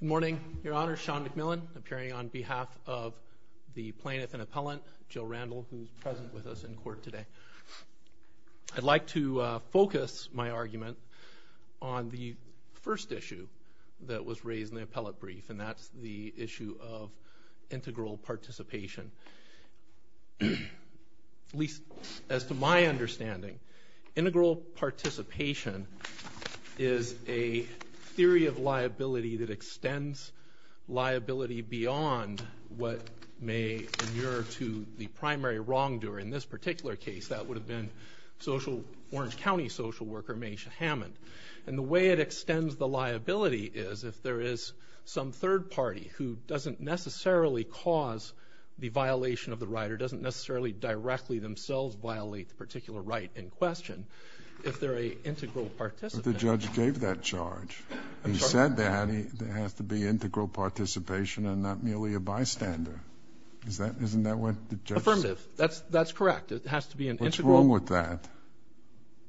Good morning. Your Honor, Sean McMillan, appearing on behalf of the plaintiff and appellant, Jill Randall, who is present with us in court today. I'd like to focus my argument on the first issue that was raised in the appellate brief, and that's the issue of integral participation. At least as to my understanding, integral participation is a theory of liability that extends liability beyond what may inure to the primary wrongdoer. In this particular case, that would have been Orange County social worker Maysha Hammond. And the way it extends the liability is if there is some third party who doesn't necessarily cause the violation of the right, or doesn't necessarily directly themselves violate the particular right in question, if they're an integral participant. But the judge gave that charge. He said that it has to be integral participation and not merely a bystander. Isn't that what the judge said? Affirmative. That's correct. It has to be an integral. What's wrong with that?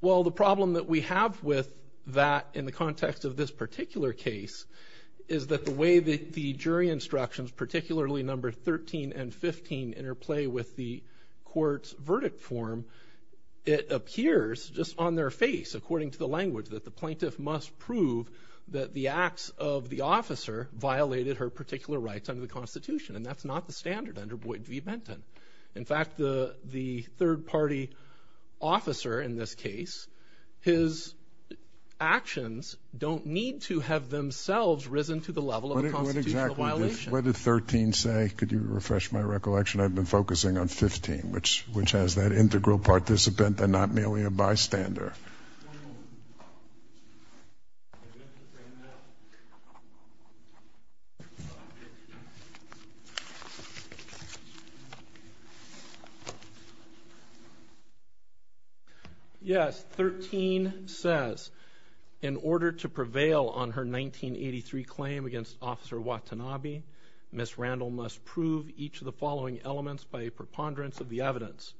Well, the problem that we have with that in the context of this particular case is that the way that the jury instructions, particularly number 13 and 15, interplay with the court's verdict form, it appears just on their face, according to the language, that the plaintiff must prove that the acts of the officer violated her particular rights under the Constitution. And that's not the standard under Boyd v. Benton. In fact, the third party officer in this case, his actions don't need to have themselves risen to the level of a constitutional violation. What did 13 say? Could you refresh my recollection? I've been focusing on 15, which has that integral participant and not merely a bystander. Yes, 13 says in order to prevail on her 1983 claim against Officer Watanabe, Ms. Randall must prove each of the following elements by a preponderance of the evidence.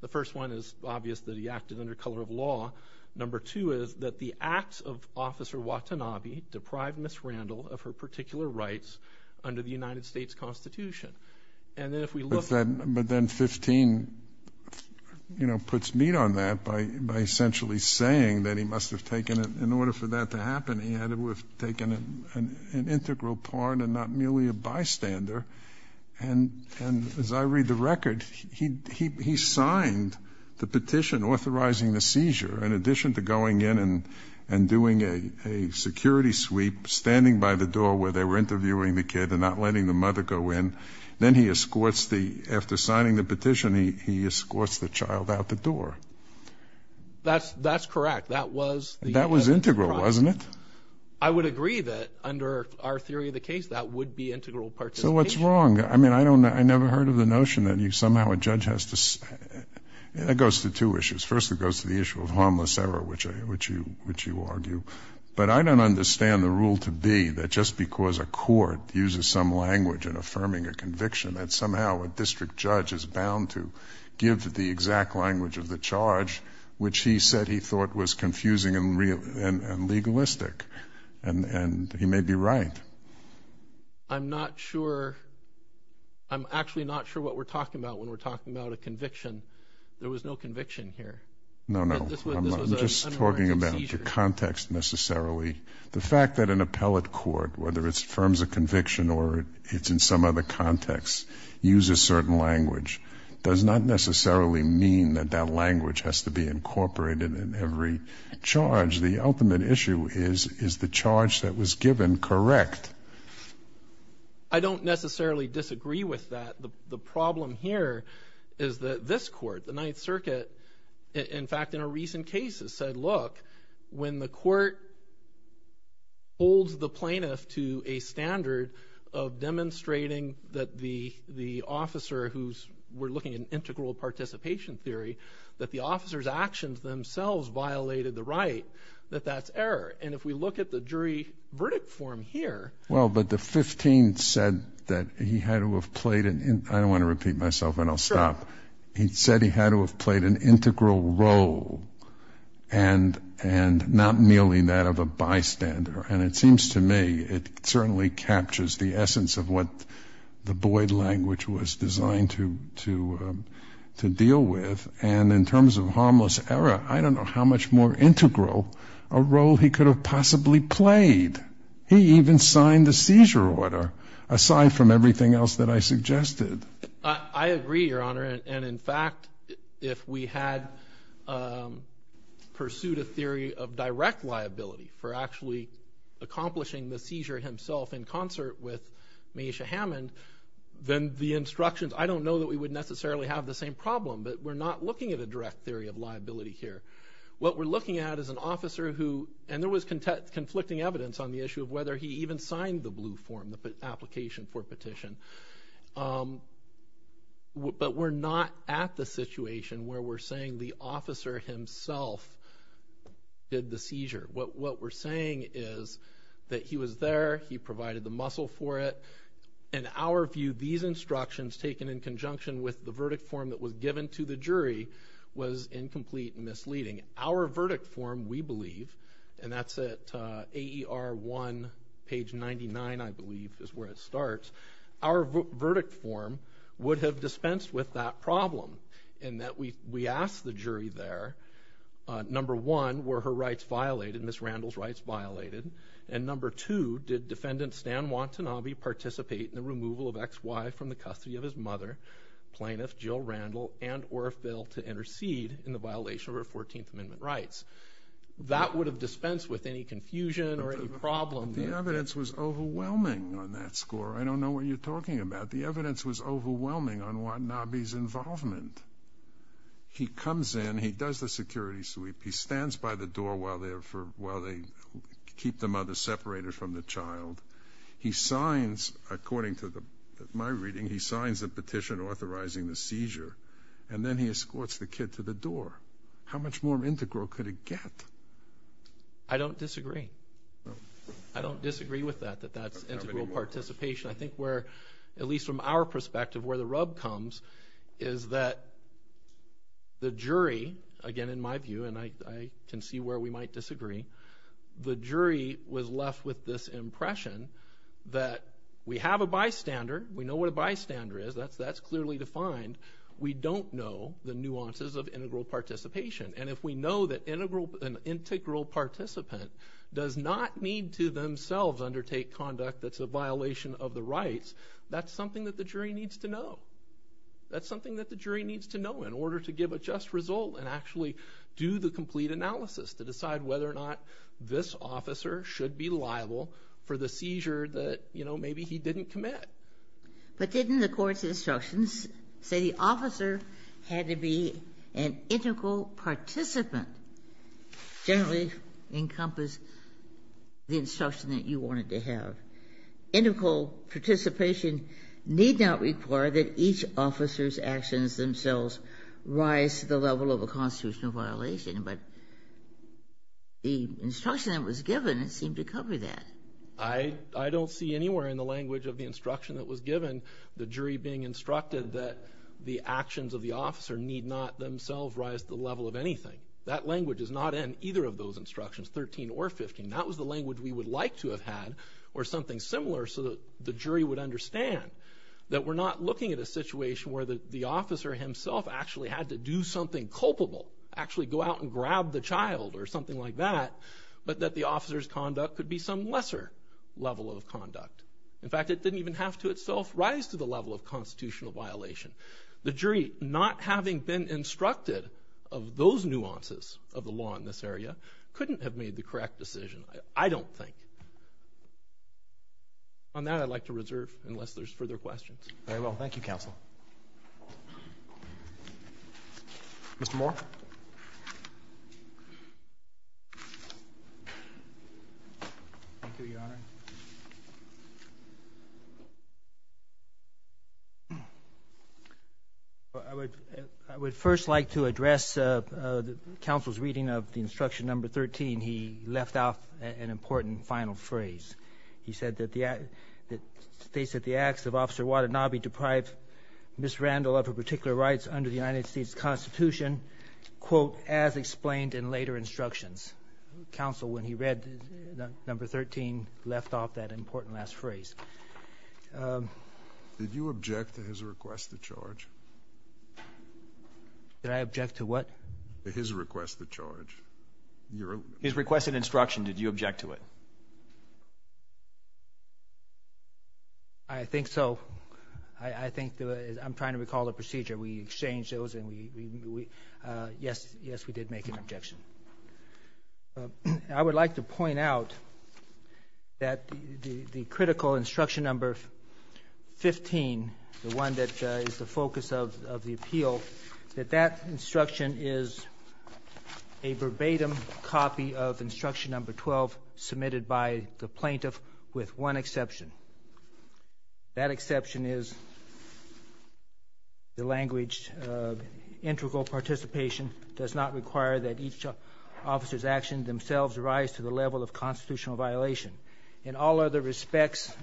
The first one is obvious that he acted under color of law. Number two is that the acts of Officer Watanabe deprived Ms. Randall of her particular rights under the United States Constitution. But then 15, you know, puts meat on that by essentially saying that in order for that to happen, he had to have taken an integral part and not merely a bystander. And as I read the record, he signed the petition authorizing the seizure in addition to going in and doing a security sweep, standing by the door where they were interviewing the kid and not letting the mother go in. Then he escorts the — after signing the petition, he escorts the child out the door. That's correct. That was the — Wasn't it? I would agree that under our theory of the case, that would be integral participation. So what's wrong? I mean, I don't know. I never heard of the notion that somehow a judge has to — that goes to two issues. First, it goes to the issue of harmless error, which you argue. But I don't understand the rule to be that just because a court uses some language in affirming a conviction, that somehow a district judge is bound to give the exact language of the charge, which he said he thought was confusing and legalistic. And he may be right. I'm not sure. I'm actually not sure what we're talking about when we're talking about a conviction. There was no conviction here. No, no. I'm just talking about the context necessarily. The fact that an appellate court, whether it affirms a conviction or it's in some other context, uses certain language does not necessarily mean that that language has to be incorporated in every charge. The ultimate issue is, is the charge that was given correct? I don't necessarily disagree with that. The problem here is that this court, the Ninth Circuit, in fact, in a recent case has said, when the court holds the plaintiff to a standard of demonstrating that the officer, who we're looking at an integral participation theory, that the officer's actions themselves violated the right, that that's error. And if we look at the jury verdict form here. Well, but the 15th said that he had to have played an integral role. And not merely that of a bystander. And it seems to me it certainly captures the essence of what the Boyd language was designed to deal with. And in terms of harmless error, I don't know how much more integral a role he could have possibly played. He even signed the seizure order, aside from everything else that I suggested. I agree, Your Honor. And, in fact, if we had pursued a theory of direct liability for actually accomplishing the seizure himself in concert with Maisha Hammond, then the instructions, I don't know that we would necessarily have the same problem. But we're not looking at a direct theory of liability here. What we're looking at is an officer who, and there was conflicting evidence on the issue of whether he even signed the blue form, the application for petition. But we're not at the situation where we're saying the officer himself did the seizure. What we're saying is that he was there, he provided the muscle for it. In our view, these instructions taken in conjunction with the verdict form that was given to the jury was incomplete and misleading. Our verdict form, we believe, and that's at AER 1, page 99, I believe, is where it starts. Our verdict form would have dispensed with that problem in that we asked the jury there, number one, were her rights violated, Ms. Randall's rights violated? And, number two, did Defendant Stan Watanabe participate in the removal of XY from the custody of his mother, plaintiff Jill Randall, and or fail to intercede in the violation of her 14th Amendment rights? That would have dispensed with any confusion or any problem. The evidence was overwhelming on that score. I don't know what you're talking about. The evidence was overwhelming on Watanabe's involvement. He comes in. He does the security sweep. He stands by the door while they keep the mother separated from the child. He signs, according to my reading, he signs the petition authorizing the seizure, and then he escorts the kid to the door. How much more integral could it get? I don't disagree. I don't disagree with that, that that's integral participation. I think where, at least from our perspective, where the rub comes is that the jury, again, in my view, and I can see where we might disagree, the jury was left with this impression that we have a bystander. We know what a bystander is. That's clearly defined. We don't know the nuances of integral participation. And if we know that an integral participant does not need to themselves undertake conduct that's a violation of the rights, that's something that the jury needs to know. That's something that the jury needs to know in order to give a just result and actually do the complete analysis to decide whether or not this officer should be liable for the seizure that, you know, maybe he didn't commit. But didn't the court's instructions say the officer had to be an integral participant? Generally encompass the instruction that you wanted to have. Integral participation need not require that each officer's actions themselves rise to the level of a constitutional violation, but the instruction that was given, it seemed to cover that. I don't see anywhere in the language of the instruction that was given the jury being instructed that the actions of the officer need not themselves rise to the level of anything. That language is not in either of those instructions, 13 or 15. That was the language we would like to have had or something similar so that the jury would understand that we're not looking at a situation where the officer himself actually had to do something culpable, actually go out and grab the child or something like that, but that the officer's conduct could be some lesser level of conduct. In fact, it didn't even have to itself rise to the level of constitutional violation. The jury, not having been instructed of those nuances of the law in this area, couldn't have made the correct decision, I don't think. On that, I'd like to reserve unless there's further questions. Very well. Thank you, Counsel. Mr. Moore. Thank you, Your Honor. I would first like to address counsel's reading of the instruction number 13. He left out an important final phrase. He states that the acts of Officer Watanabe deprive Ms. Randall of her particular rights under the United States Constitution, quote, as explained in later instructions. Counsel, when he read number 13, left off that important last phrase. Did you object to his request to charge? Did I object to what? His request to charge. His request and instruction, did you object to it? I think so. I think I'm trying to recall the procedure. We exchanged those, and yes, we did make an objection. I would like to point out that the critical instruction number 15, the one that is the focus of the appeal, that that instruction is a verbatim copy of instruction number 12, submitted by the plaintiff with one exception. That exception is the language, integral participation does not require that each officer's actions themselves rise to the level of constitutional violation. In all other respects,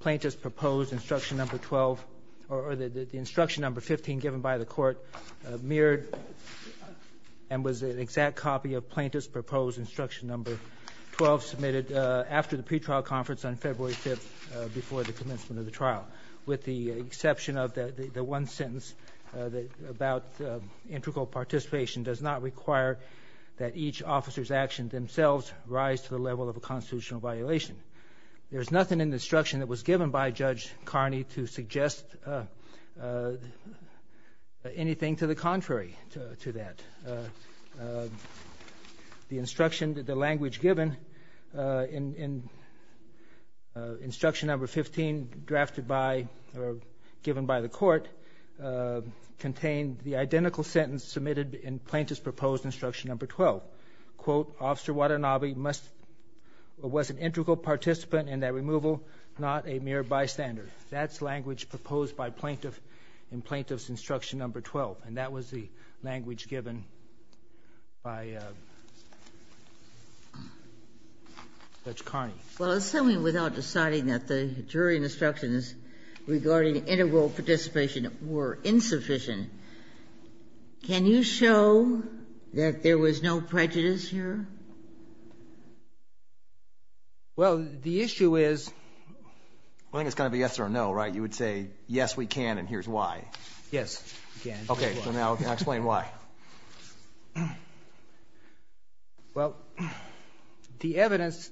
plaintiff's proposed instruction number 12, or the instruction number 15 given by the court, mirrored and was an exact copy of plaintiff's proposed instruction number 12, submitted after the pretrial conference on February 5th before the commencement of the trial. With the exception of the one sentence about integral participation does not require that each officer's actions themselves rise to the level of a constitutional violation. There is nothing in the instruction that was given by Judge Carney to suggest anything to the contrary to that. The instruction, the language given in instruction number 15, drafted by or given by the court, contained the identical sentence submitted in plaintiff's proposed instruction number 12. Quote, Officer Watanabe must or was an integral participant in that removal, not a mere bystander. That's language proposed by plaintiff in plaintiff's instruction number 12. And that was the language given by Judge Carney. Well, assuming without deciding that the jury instructions regarding integral participation were insufficient, can you show that there was no prejudice here? Well, the issue is I think it's going to be yes or no, right? You would say yes, we can, and here's why. Yes, we can. Okay. So now explain why. Well, the evidence,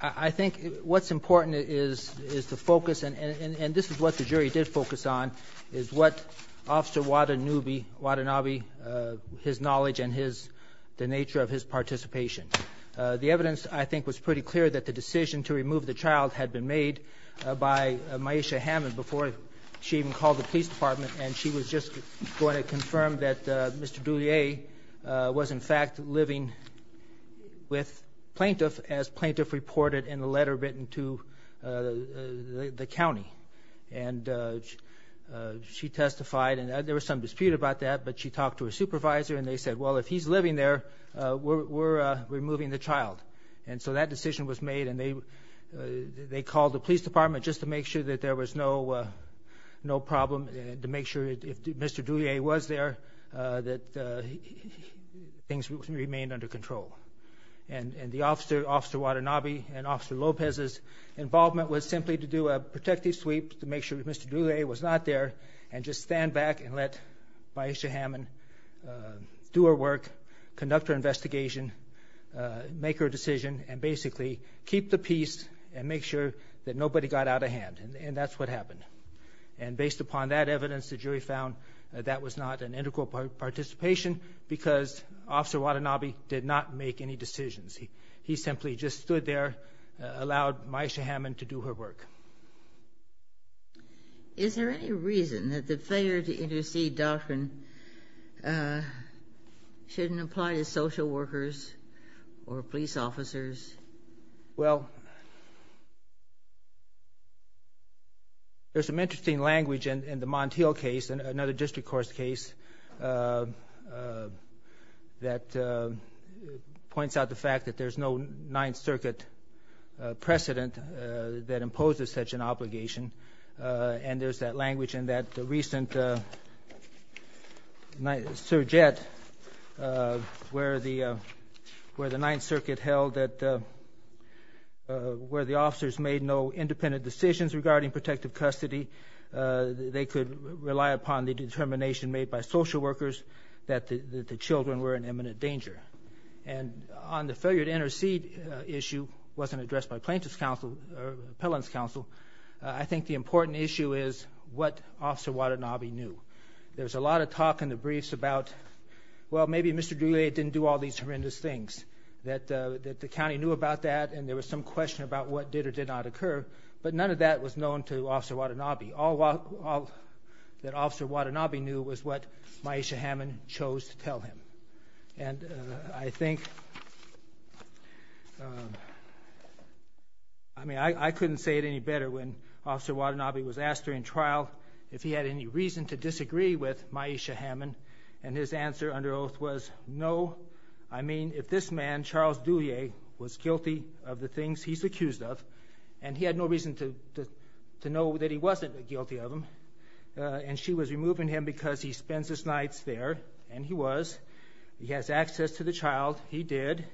I think what's important is the focus, and this is what the jury did focus on, is what Officer Watanabe, his knowledge and the nature of his participation. The evidence, I think, was pretty clear that the decision to remove the child had been made by Maisha Hammond before she even called the police department, and she was just going to confirm that Mr. Dulier was, in fact, living with plaintiff as plaintiff reported in the letter written to the county. And she testified, and there was some dispute about that, but she talked to her supervisor, and they said, well, if he's living there, we're removing the child. And so that decision was made, and they called the police department just to make sure that there was no problem, to make sure if Mr. Dulier was there that things remained under control. And Officer Watanabe and Officer Lopez's involvement was simply to do a protective sweep to make sure that Mr. Dulier was not there and just stand back and let Maisha Hammond do her work, conduct her investigation, make her decision, and basically keep the peace and make sure that nobody got out of hand, and that's what happened. And based upon that evidence, the jury found that that was not an integral participation because Officer Watanabe did not make any decisions. He simply just stood there, allowed Maisha Hammond to do her work. Is there any reason that the failure to intercede doctrine shouldn't apply to social workers or police officers? Well, there's some interesting language in the Montiel case, another district court's case, that points out the fact that there's no Ninth Circuit precedent that imposes such an obligation, and there's that language in that recent surjet where the Ninth Circuit held that where the officers made no independent decisions regarding protective custody. They could rely upon the determination made by social workers that the children were in imminent danger. And on the failure to intercede issue, wasn't addressed by plaintiff's counsel or appellant's counsel, I think the important issue is what Officer Watanabe knew. There was a lot of talk in the briefs about, well, maybe Mr. Goulet didn't do all these horrendous things, that the county knew about that and there was some question about what did or did not occur, but none of that was known to Officer Watanabe. All that Officer Watanabe knew was what Maisha Hammond chose to tell him. And I think, I mean, I couldn't say it any better when Officer Watanabe was asked during trial if he had any reason to disagree with Maisha Hammond, and his answer under oath was no. I mean, if this man, Charles Dulier, was guilty of the things he's accused of, and he had no reason to know that he wasn't guilty of them, and she was removing him because he spends his nights there, and he was, he has access to the child, he did,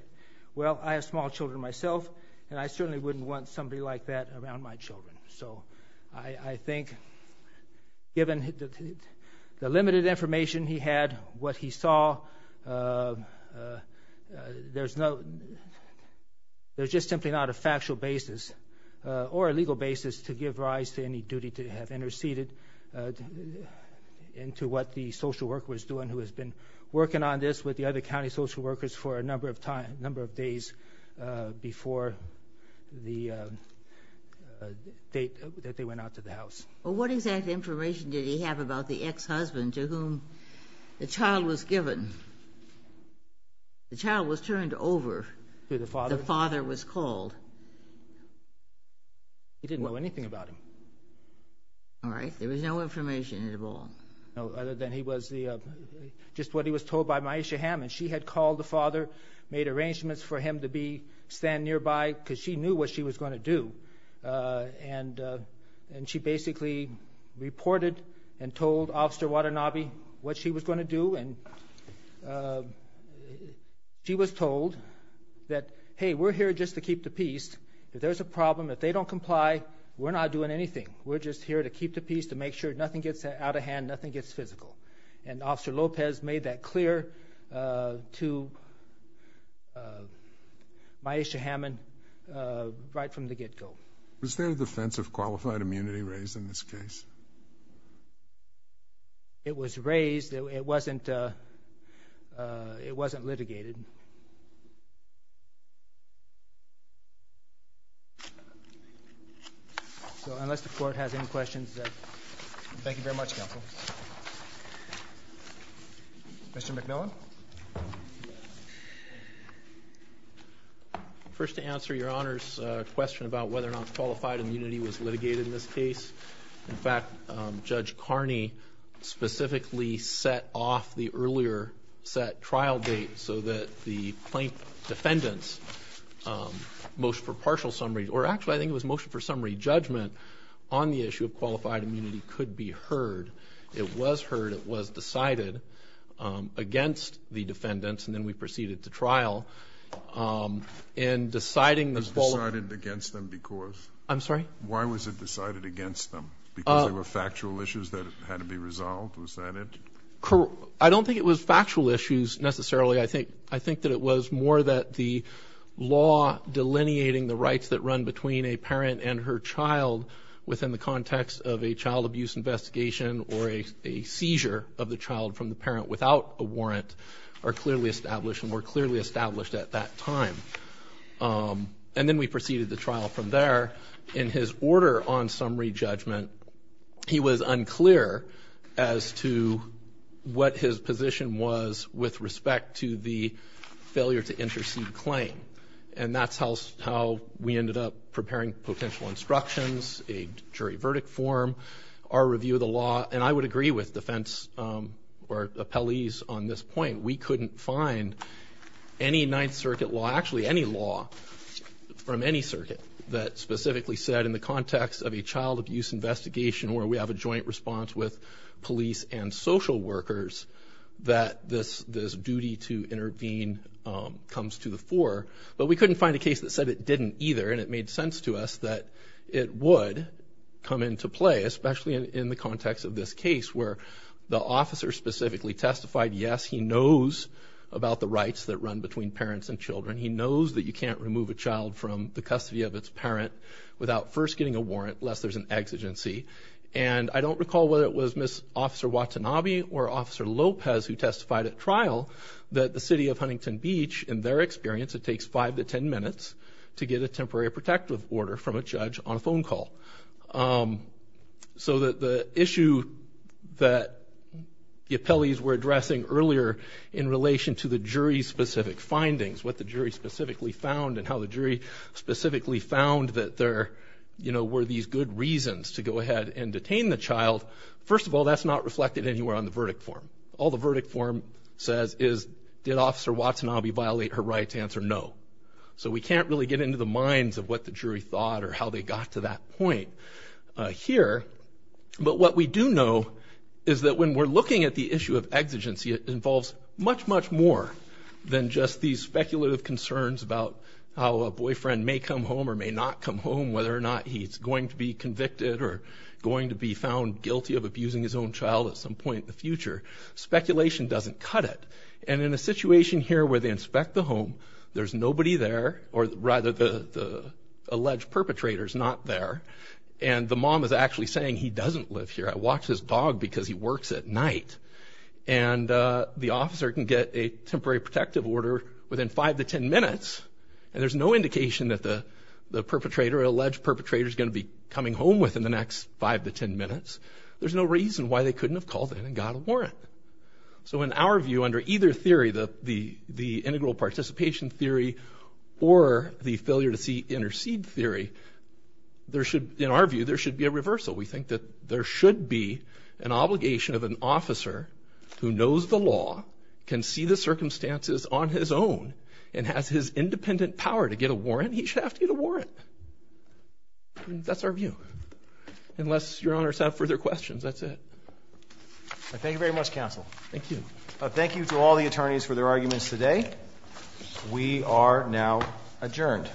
well, I have small children myself, and I certainly wouldn't want somebody like that around my children. So I think given the limited information he had, what he saw, there's no, there's just simply not a factual basis, or a legal basis, to give rise to any duty to have interceded into what the social worker was doing, who has been working on this with the other county social workers for a number of days before the date that they went out to the house. Well, what exact information did he have about the ex-husband to whom the child was given? The child was turned over. To the father? The father was called. He didn't know anything about him. All right, there was no information at all. No, other than he was the, just what he was told by Maisha Hammond. She had called the father, made arrangements for him to be, stand nearby, because she knew what she was going to do, and she basically reported and told Officer Watanabe what she was going to do, and she was told that, hey, we're here just to keep the peace. If there's a problem, if they don't comply, we're not doing anything. We're just here to keep the peace, to make sure nothing gets out of hand, nothing gets physical. And Officer Lopez made that clear to Maisha Hammond right from the get-go. Was there a defense of qualified immunity raised in this case? It was raised. It wasn't litigated. So unless the Court has any questions, thank you very much, Counsel. Mr. McMillan? First, to answer Your Honor's question about whether or not qualified immunity was litigated in this case, in fact, Judge Carney specifically set off the earlier set trial date so that the plaintiff defendants' motion for partial summary, or actually I think it was motion for summary judgment on the issue of qualified immunity could be heard. It was heard. It was decided against the defendants, and then we proceeded to trial. It was decided against them because? I'm sorry? Why was it decided against them? Because there were factual issues that had to be resolved? Was that it? I don't think it was factual issues necessarily. I think that it was more that the law delineating the rights that run between a parent and her child within the context of a child abuse investigation or a seizure of the child from the parent without a warrant are clearly established at that time, and then we proceeded to trial from there. In his order on summary judgment, he was unclear as to what his position was with respect to the failure to intercede claim, and that's how we ended up preparing potential instructions, a jury verdict form, our review of the law, and I would agree with defense or appellees on this point. We couldn't find any Ninth Circuit law, actually any law from any circuit that specifically said in the context of a child abuse investigation where we have a joint response with police and social workers that this duty to intervene comes to the fore, but we couldn't find a case that said it didn't either, and it made sense to us that it would come into play, especially in the context of this case where the officer specifically testified, yes, he knows about the rights that run between parents and children. He knows that you can't remove a child from the custody of its parent without first getting a warrant, lest there's an exigency, and I don't recall whether it was Miss Officer Watanabe or Officer Lopez who testified at trial that the city of Huntington Beach, in their experience, it takes five to ten minutes to get a temporary protective order from a judge on a phone call. So the issue that the appellees were addressing earlier in relation to the jury's specific findings, what the jury specifically found and how the jury specifically found that there were these good reasons to go ahead and detain the child, first of all, that's not reflected anywhere on the verdict form. All the verdict form says is, did Officer Watanabe violate her rights? Answer, no. So we can't really get into the minds of what the jury thought or how they got to that point here, but what we do know is that when we're looking at the issue of exigency, it involves much, much more than just these speculative concerns about how a boyfriend may come home or may not come home, whether or not he's going to be convicted or going to be found guilty of abusing his own child at some point in the future. Speculation doesn't cut it, and in a situation here where they inspect the home, there's nobody there, or rather the alleged perpetrator's not there, and the mom is actually saying he doesn't live here, I watched his dog because he works at night, and the officer can get a temporary protective order within five to ten minutes, and there's no indication that the perpetrator or alleged perpetrator is going to be coming home within the next five to ten minutes, there's no reason why they couldn't have called in and got a warrant. So in our view, under either theory, the integral participation theory or the failure to intercede theory, in our view, there should be a reversal. We think that there should be an obligation of an officer who knows the law, can see the circumstances on his own, and has his independent power to get a warrant, he should have to get a warrant. That's our view, unless Your Honors have further questions, that's it. Thank you very much, Counsel. Thank you to all the attorneys for their arguments today. We are now adjourned.